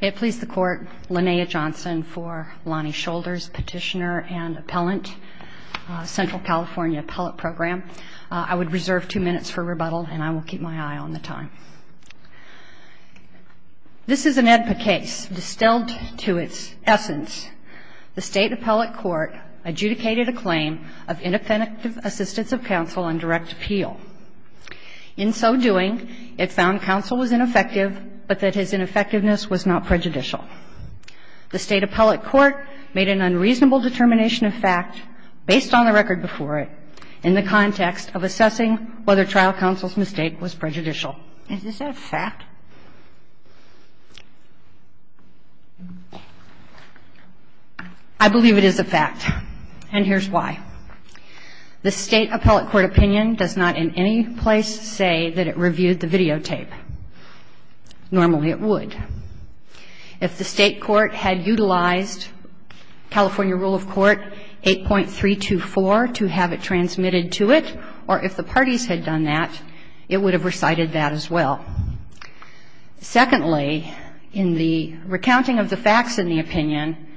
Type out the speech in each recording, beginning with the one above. It pleased the Court, Linnea Johnson for Lonnie Shoulders Petitioner and Appellant, Central California Appellate Program. I would reserve two minutes for rebuttal and I will keep my eye on the time. This is an AEDPA case. Distilled to its essence, the State Appellate Court adjudicated a claim of The State Appellate Court made an unreasonable determination of fact, based on the record before it, in the context of assessing whether trial counsel's mistake was prejudicial. Is this a fact? I believe it is a fact, and here's why. The State Appellate Court had utilized California Rule of Court 8.324 to have it transmitted to it, or if the parties had done that, it would have recited that as well. Secondly, in the recounting of the facts in the opinion,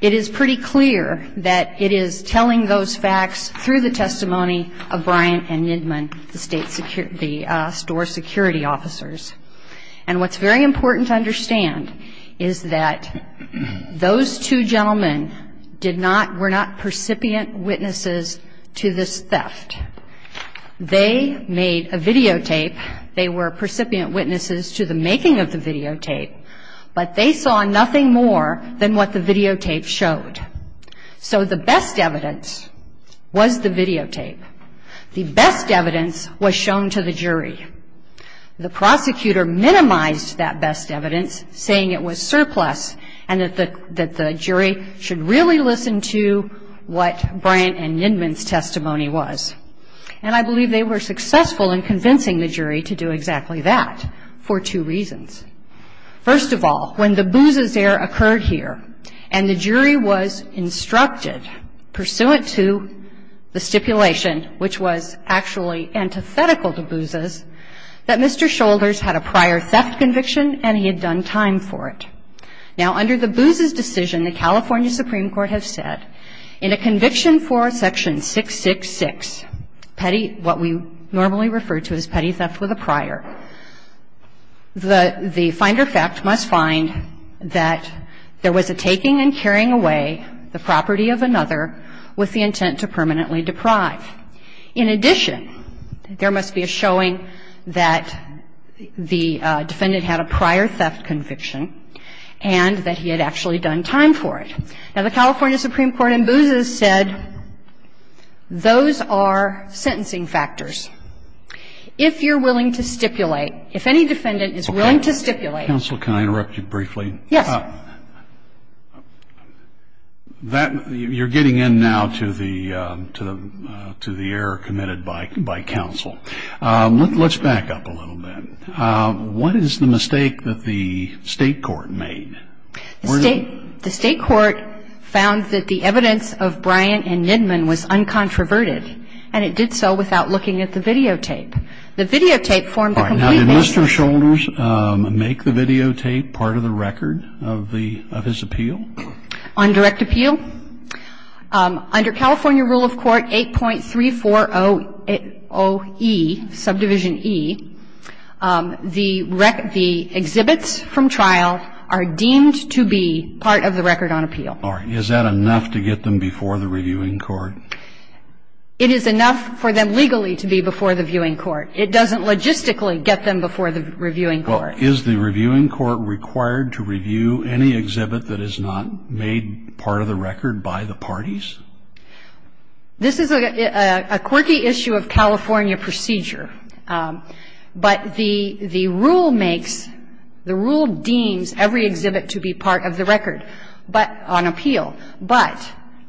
it is pretty clear that it is telling those facts through the testimony of Bryant and Nidman, the State's security, the store's security officers. And what's very important to understand is that those two gentlemen did not, were not percipient witnesses to this theft. They made a videotape. They were percipient witnesses to the making of the videotape, but they saw nothing more than what the videotape showed. So the best evidence was the videotape. The best evidence was shown to the jury. The prosecutor minimized that best evidence, and the best evidence was saying it was surplus, and that the jury should really listen to what Bryant and Nidman's testimony was. And I believe they were successful in convincing the jury to do exactly that for two reasons. First of all, when the Booz's error occurred here, and the jury was instructed, pursuant to the stipulation, which was actually antithetical to Booz's, that Mr. Shoulders had a prior theft conviction and he had done time for it. Now, under the Booz's decision, the California Supreme Court has said, in a conviction for section 666, petty, what we normally refer to as petty theft with a prior, the finder fact must find that there was a taking and carrying away the property of another with the intent to permanently deprive. In addition, there must be a showing that the defendant had a prior theft conviction and that he had actually done time for it. Now, the California Supreme Court in Booz's said, those are sentencing factors. If you're willing to stipulate, if any defendant is willing to stipulate. Okay. Counsel, can I interrupt you briefly? Yes. That you're getting in now to the error committed by counsel. Let's back up a little bit. What is the mistake in this case? What is the mistake that the State court made? The State court found that the evidence of Bryant and Nidman was uncontroverted, and it did so without looking at the videotape. The videotape formed a complete match. All right. Now, did Mr. Shoulders make the videotape part of the record of the, of his appeal? Okay. Let's go to the next question. On direct appeal, under California rule of court 8.3400E, subdivision E, the exhibits from trial are deemed to be part of the record on appeal. All right. Is that enough to get them before the reviewing court? It is enough for them legally to be before the viewing court. It doesn't logistically get them before the reviewing court. Well, is the reviewing court required to review any exhibit that is not made part of the record by the parties? This is a quirky issue of California procedure. But the rule makes, the rule deems every exhibit to be part of the record, but, on appeal. But,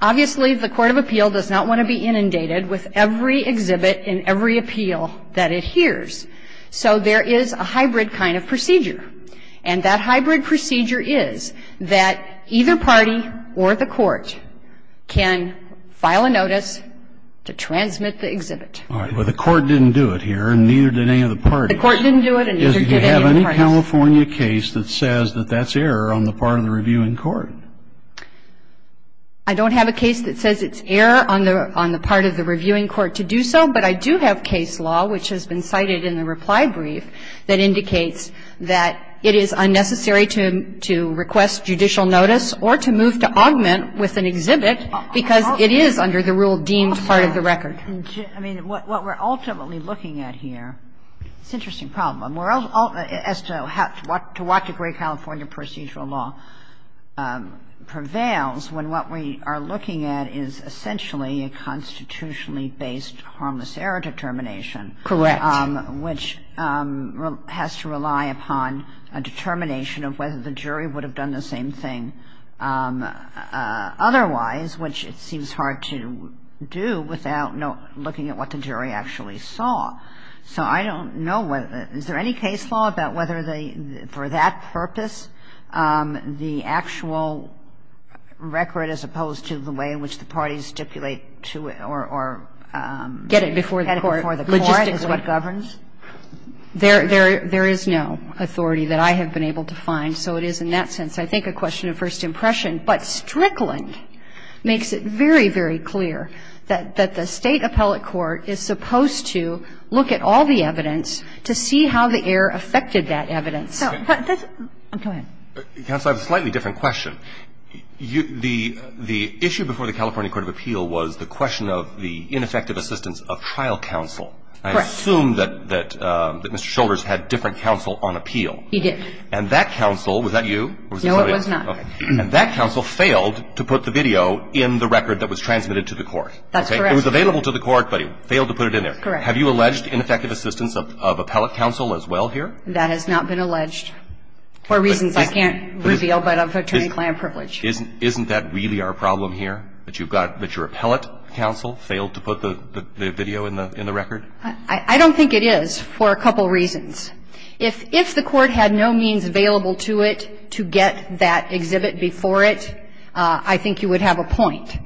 obviously, the court of appeal does not want to be inundated with every exhibit and every appeal that it hears. So there is a hybrid kind of procedure. And that hybrid procedure is that either party or the court can file a notice to transmit the exhibit. All right. Well, the court didn't do it here, and neither did any of the parties. Do you have any California case that says that that's error on the part of the reviewing court? I don't have a case that says it's error on the part of the reviewing court to do so. But I do have case law, which has been cited in the reply brief, that indicates that it is unnecessary to request judicial notice or to move to augment with an exhibit because it is under the rule deemed part of the record. I mean, what we're ultimately looking at here, it's an interesting problem. As to what degree California procedural law prevails when what we are looking at is essentially a constitutionally based harmless error determination. Correct. Which has to rely upon a determination of whether the jury would have done the same thing otherwise, which it seems hard to do without looking at what the jury actually saw. So I don't know whether the – is there any case law about whether they, for that purpose, the actual record as opposed to the way in which the parties stipulate to it or get it before the court is what governs? There is no authority that I have been able to find. So it is in that sense, I think, a question of first impression. But Strickland makes it very, very clear that the State appellate court is supposed to look at all the evidence to see how the error affected that evidence. Go ahead. Counsel, I have a slightly different question. The issue before the California court of appeal was the question of the ineffective assistance of trial counsel. Correct. I assume that Mr. Shoulders had different counsel on appeal. He did. And that counsel, was that you? No, it was not. And that counsel failed to put the video in the record that was transmitted to the court. That's correct. It was available to the court, but he failed to put it in there. Correct. Have you alleged ineffective assistance of appellate counsel as well here? That has not been alleged for reasons I can't reveal, but of attorney-client privilege. Isn't that really our problem here, that you've got – that your appellate counsel failed to put the video in the record? I don't think it is for a couple reasons. If the court had no means available to it to get that exhibit before it, I think you would have a point.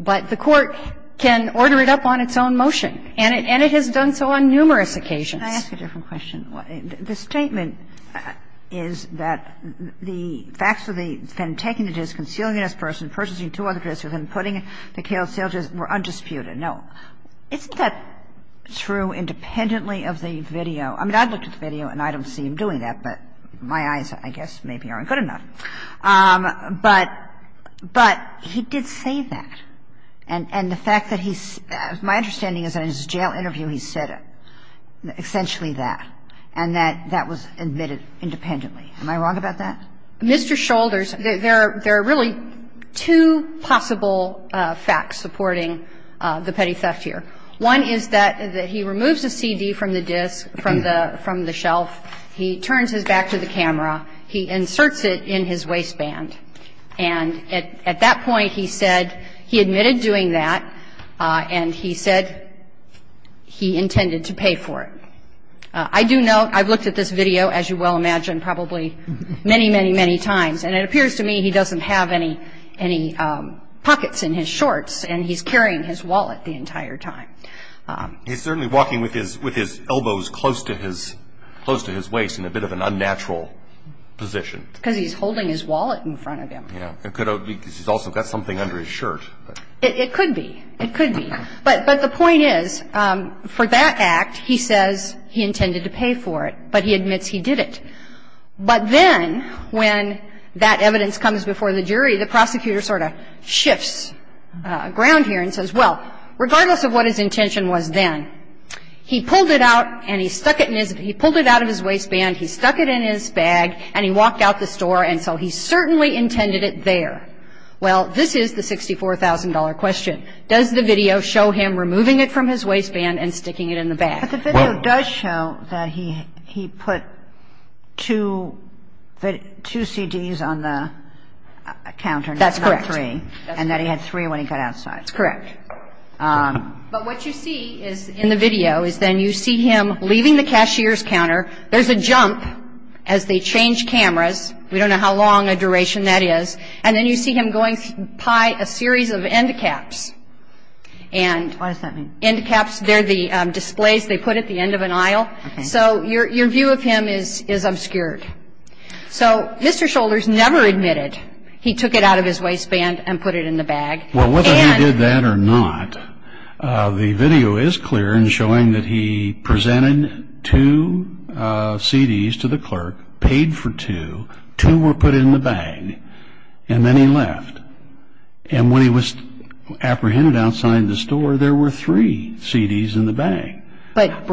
But the court can order it up on its own motion, and it has done so on numerous occasions. Can I ask a different question? The statement is that the facts of the defendant taking the disk, concealing it as a person, purchasing two other disks, and then putting it in the Kaled sale disk were undisputed. Now, isn't that true independently of the video? I mean, I looked at the video, and I don't see him doing that, but my eyes, I guess, maybe aren't good enough. But he did say that, and the fact that he's – my understanding is that in his jail interview he said essentially that, and that that was admitted independently. Am I wrong about that? Mr. Shoulders, there are really two possible facts supporting the petty theft here. One is that he removes a CD from the disk, from the shelf, he turns his back to the camera, he inserts it in his waistband, and at that point he said he admitted doing that, and he said he intended to pay for it. I do know – I've looked at this video, as you well imagine, probably many, many, many times, and it appears to me he doesn't have any pockets in his shorts, and he's holding his wallet the entire time. He's certainly walking with his elbows close to his waist in a bit of an unnatural position. Because he's holding his wallet in front of him. Yeah. It could be because he's also got something under his shirt. It could be. It could be. But the point is, for that act, he says he intended to pay for it, but he admits he did it. But then when that evidence comes before the jury, the prosecutor sort of shifts ground here and says, well, regardless of what his intention was then, he pulled it out and he stuck it in his – he pulled it out of his waistband, he stuck it in his bag, and he walked out the store, and so he certainly intended it there. Well, this is the $64,000 question. Does the video show him removing it from his waistband and sticking it in the bag? But the video does show that he put two CDs on the counter, not three. That's correct. And that he had three when he got outside. That's correct. But what you see in the video is then you see him leaving the cashier's counter. There's a jump as they change cameras. We don't know how long a duration that is. And then you see him going to buy a series of end caps. What does that mean? End caps. They're the displays they put at the end of an aisle. Okay. So your view of him is obscured. So Mr. Shoulders never admitted he took it out of his waistband and put it in the bag. Well, whether he did that or not, the video is clear in showing that he presented two CDs to the clerk, paid for two, two were put in the bag, and then he left. And when he was apprehended outside the store, there were three CDs in the bag. What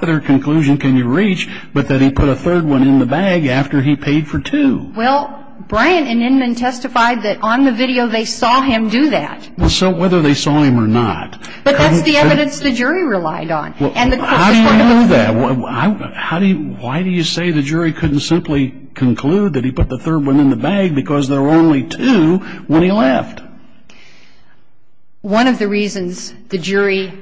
other conclusion can you reach but that he put a third one in the bag after he paid for two? Well, Bryant and Inman testified that on the video they saw him do that. So whether they saw him or not. But that's the evidence the jury relied on. How do you know that? Why do you say the jury couldn't simply conclude that he put the third one in the bag because there were only two when he left? One of the reasons the jury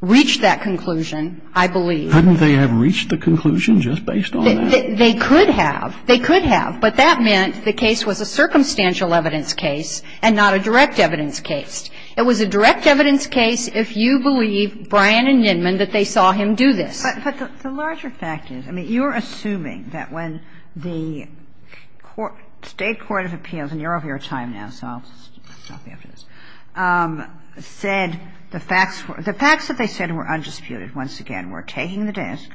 reached that conclusion, I believe. Couldn't they have reached the conclusion just based on that? They could have. They could have. But that meant the case was a circumstantial evidence case and not a direct evidence case. It was a direct evidence case if you believe Bryant and Inman that they saw him do this. But the larger fact is, I mean, you're assuming that when the state court of appeals, and you're over your time now, so I'll stop you after this, said the facts that they said were undisputed, once again, were taking the disc,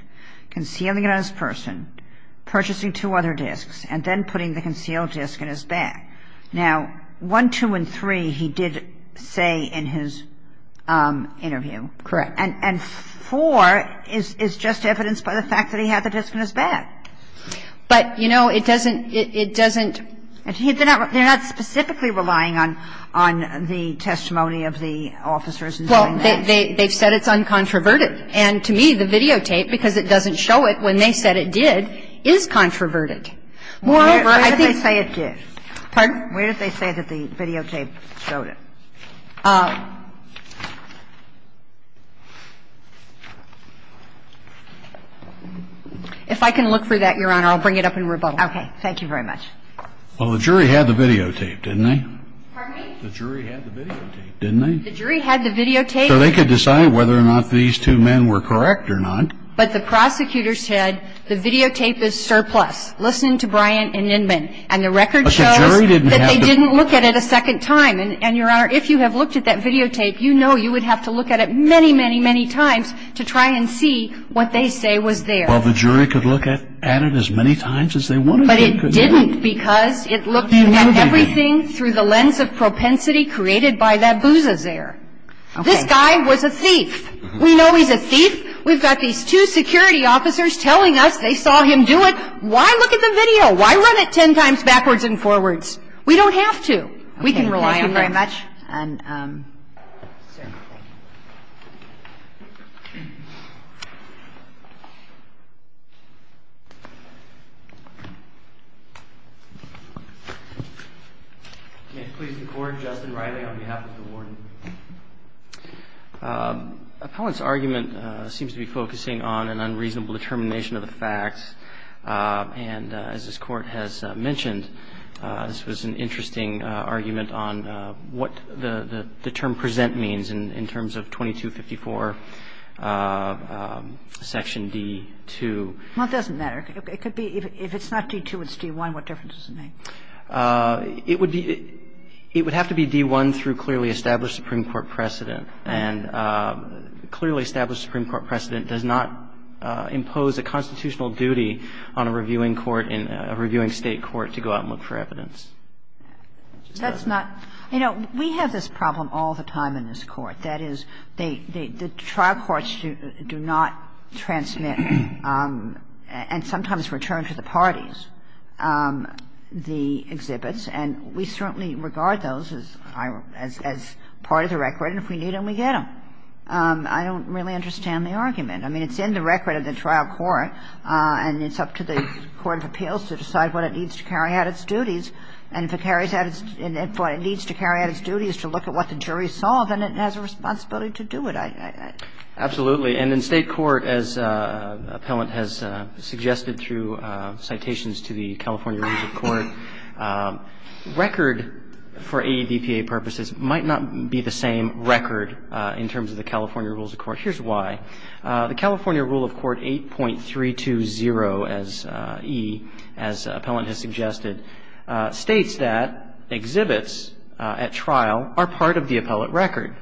concealing it on his person, purchasing two other discs, and then putting the concealed disc in his bag. Now, one, two, and three he did say in his interview. Correct. And four is just evidence by the fact that he had the disc in his bag. But, you know, it doesn't, it doesn't. They're not specifically relying on the testimony of the officers in saying that. Well, they've said it's uncontroverted. And to me, the videotape, because it doesn't show it when they said it did, is controverted. Moreover, I think. Where did they say it did? Pardon? Where did they say that the videotape showed it? If I can look for that, Your Honor, I'll bring it up in rebuttal. Okay. Thank you very much. Well, the jury had the videotape, didn't they? Pardon me? The jury had the videotape, didn't they? The jury had the videotape. So they could decide whether or not these two men were correct or not. But the prosecutor said the videotape is surplus. Listen to Bryant and Inman. And the record shows that they didn't look at it a second time. And, Your Honor, if you have looked at that videotape, you know you would have to look at it many, many, many times to try and see what they say was there. Well, the jury could look at it as many times as they wanted. But it didn't because it looked at everything through the lens of propensity created by that bouzazaire. This guy was a thief. We know he's a thief. We've got these two security officers telling us they saw him do it. Why look at the video? Why run it ten times backwards and forwards? We don't have to. We can rely on that. Thank you very much. And, Sarah, thank you. May it please the Court? Justin Riley on behalf of the Warden. Appellant's argument seems to be focusing on an unreasonable determination of the facts. And as this Court has mentioned, this was an interesting argument on what the term present means in terms of 2254 section D-2. Well, it doesn't matter. It could be if it's not D-2, it's D-1. What difference does it make? It would be – it would have to be D-1 through clearly established Supreme Court precedent. And clearly established Supreme Court precedent does not impose a constitutional duty on a reviewing court, a reviewing State court, to go out and look for evidence. That's not – you know, we have this problem all the time in this Court. That is, the trial courts do not transmit and sometimes return to the parties the exhibits. And we certainly regard those as part of the record, and if we need them, we get them. I don't really understand the argument. I mean, it's in the record of the trial court, and it's up to the court of appeals to decide what it needs to carry out its duties. And if it carries out its – if what it needs to carry out its duty is to look at what the jury saw, then it has a responsibility to do it. Absolutely. And in State court, as Appellant has suggested through citations to the California Rules of Court, record for ADPA purposes might not be the same record in terms of the California Rules of Court. Here's why. The California Rule of Court 8.320-E, as Appellant has suggested, states that exhibits at trial are part of the appellate record.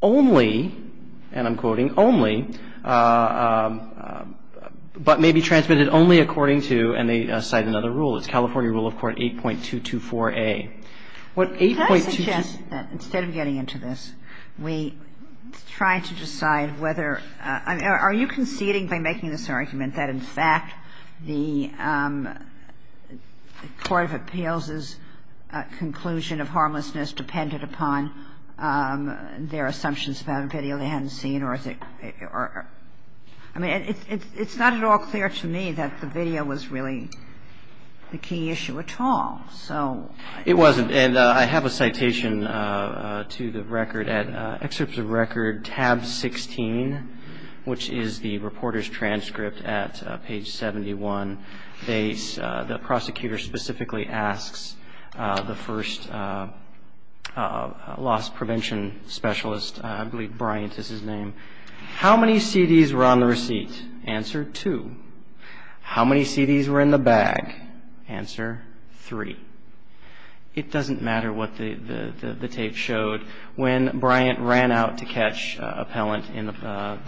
Only, and I'm quoting, only, but may be transmitted only according to, and they cite another rule, it's California Rule of Court 8.224-A. What 8.224-A. Can I suggest that instead of getting into this, we try to decide whether – are you conceding by making this argument that, in fact, the court of appeals's conclusion of harmlessness depended upon their assumptions about a video they hadn't seen, or is it – I mean, it's not at all clear to me that the video was really the key issue at all. So – It wasn't. And I have a citation to the record. At excerpts of record tab 16, which is the reporter's transcript at page 71, they cite the following statement. In this case, the prosecutor specifically asks the first loss prevention specialist – I believe Bryant is his name – how many CDs were on the receipt? Answer, two. How many CDs were in the bag? Answer, three. It doesn't matter what the tape showed. When Bryant ran out to catch Appellant in the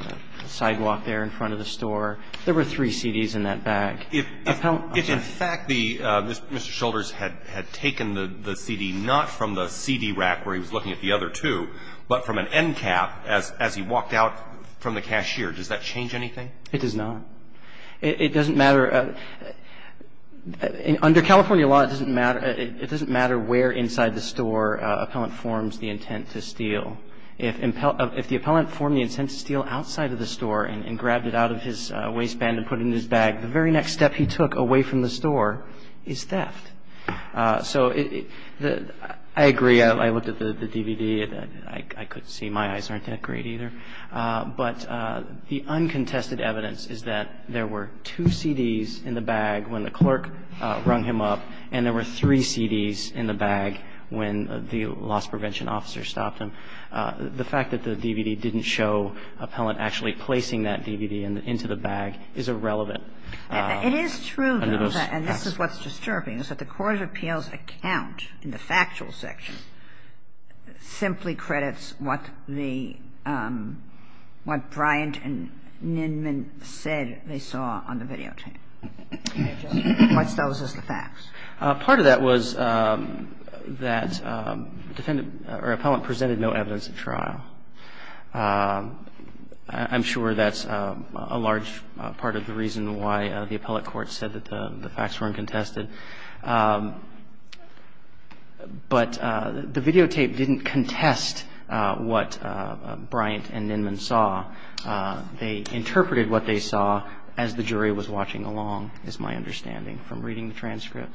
sidewalk there in front of the store, there were three CDs in that bag. If, in fact, Mr. Shoulders had taken the CD not from the CD rack where he was looking at the other two, but from an end cap as he walked out from the cashier, does that change anything? It does not. It doesn't matter – under California law, it doesn't matter where inside the store Appellant forms the intent to steal. If the Appellant formed the intent to steal outside of the store and grabbed it out of his waistband and put it in his bag, the very next step he took away from the store is theft. So I agree. I looked at the DVD. I could see my eyes aren't that great either. But the uncontested evidence is that there were two CDs in the bag when the clerk rung him up, and there were three CDs in the bag when the loss prevention officer stopped him. The fact that the DVD didn't show Appellant actually placing that DVD into the bag is irrelevant under those facts. It is true, though, and this is what's disturbing, is that the Court of Appeals account in the factual section simply credits what the – what Bryant and Nindman said they saw on the videotape. What's those as the facts? Part of that was that defendant – or Appellant presented no evidence at trial. I'm sure that's a large part of the reason why the appellate court said that the facts weren't contested. But the videotape didn't contest what Bryant and Nindman saw. They interpreted what they saw as the jury was watching along, is my understanding from reading the transcript.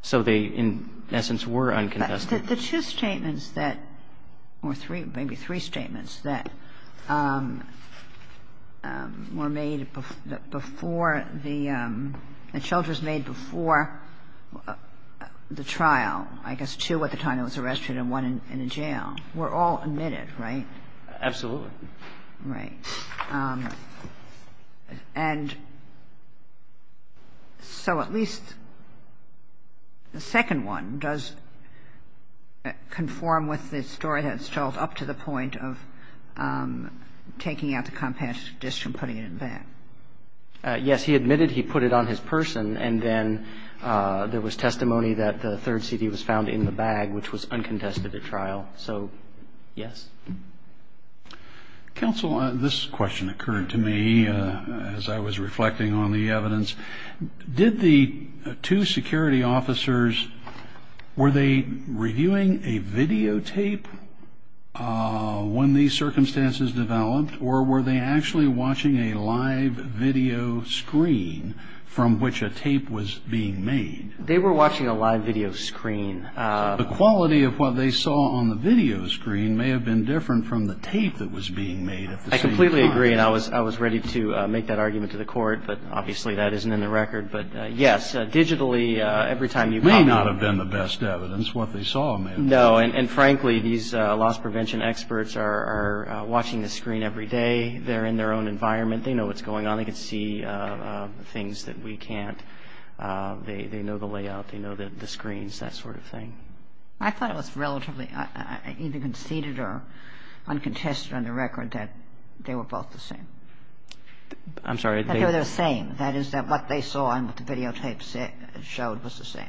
So they, in essence, were uncontested. The two statements that – or three, maybe three statements that were made before the – the shelters made before the trial, I guess two at the time he was arrested and one in the jail, were all admitted, right? Absolutely. Right. And so at least the second one does conform with the story that's told up to the point of taking out the competition and putting it in back. Yes. He admitted he put it on his person, and then there was testimony that the third Yes. Counsel, this question occurred to me as I was reflecting on the evidence. Did the two security officers – were they reviewing a videotape when these circumstances developed, or were they actually watching a live video screen from which a tape was being made? They were watching a live video screen. The quality of what they saw on the video screen may have been different from the tape that was being made at the same time. I completely agree, and I was ready to make that argument to the court, but obviously that isn't in the record. But yes, digitally, every time you – It may not have been the best evidence, what they saw. No, and frankly, these loss prevention experts are watching the screen every day. They're in their own environment. They know what's going on. They can see things that we can't. They know the layout. They know the screens, that sort of thing. I thought it was relatively either conceded or uncontested on the record that they were both the same. I'm sorry. That they were the same, that is, that what they saw and what the videotapes showed was the same.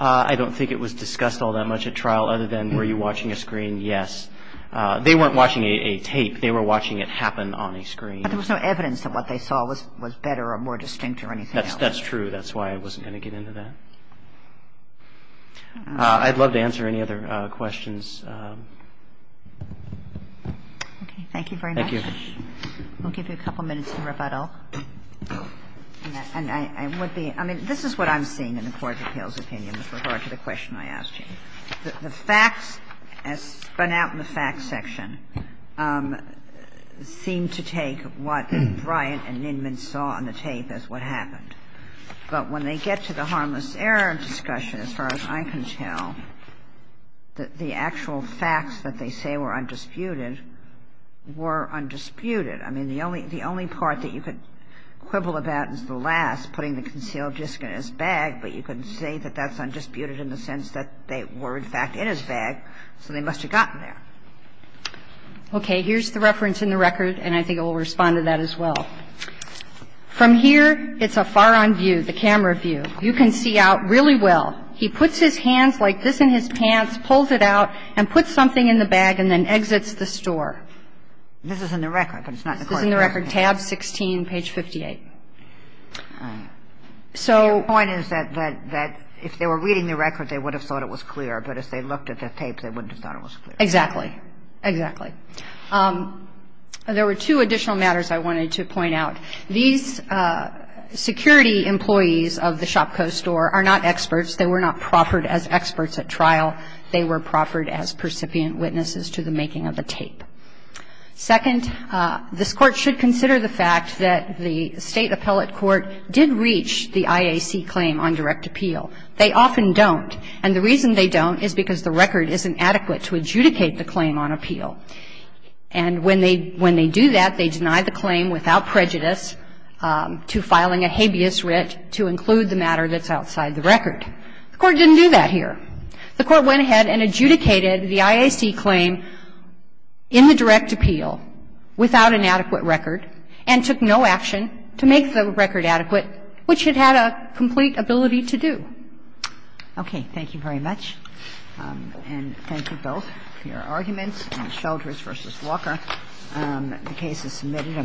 I don't think it was discussed all that much at trial, other than were you watching a screen, yes. They weren't watching a tape. They were watching it happen on a screen. But there was no evidence that what they saw was better or more distinct or anything else. That's true. That's why I wasn't going to get into that. I'd love to answer any other questions. Okay. Thank you very much. Thank you. We'll give you a couple minutes to rebuttal. And I would be – I mean, this is what I'm seeing in the Court of Appeals opinion with regard to the question I asked you. The facts, as spun out in the facts section, seem to take what Bryant and Nindman saw on the tape as what happened. But when they get to the harmless error discussion, as far as I can tell, the actual facts that they say were undisputed were undisputed. I mean, the only part that you could quibble about is the last, putting the concealed disc in his bag. But you can say that that's undisputed in the sense that they were, in fact, in his bag, so they must have gotten there. Okay. Here's the reference in the record, and I think it will respond to that as well. From here, it's a far-on view, the camera view. You can see out really well. He puts his hands like this in his pants, pulls it out, and puts something in the bag and then exits the store. This is in the record, but it's not in the Court of Appeals. This is in the record, tab 16, page 58. So the point is that if they were reading the record, they would have thought it was clear. But if they looked at the tape, they wouldn't have thought it was clear. Exactly. Exactly. There were two additional matters I wanted to point out. These security employees of the ShopCo store are not experts. They were not proffered as experts at trial. They were proffered as percipient witnesses to the making of the tape. Second, this Court should consider the fact that the State appellate court did reach the IAC claim on direct appeal. They often don't. They don't have the ability to make the claim on appeal. And when they do that, they deny the claim without prejudice to filing a habeas writ to include the matter that's outside the record. The Court didn't do that here. The Court went ahead and adjudicated the IAC claim in the direct appeal without an adequate record and took no action to make the record adequate, which it had a complete ability to do. Okay. Thank you very much. And thank you both for your arguments. Shelters v. Walker, the case is submitted.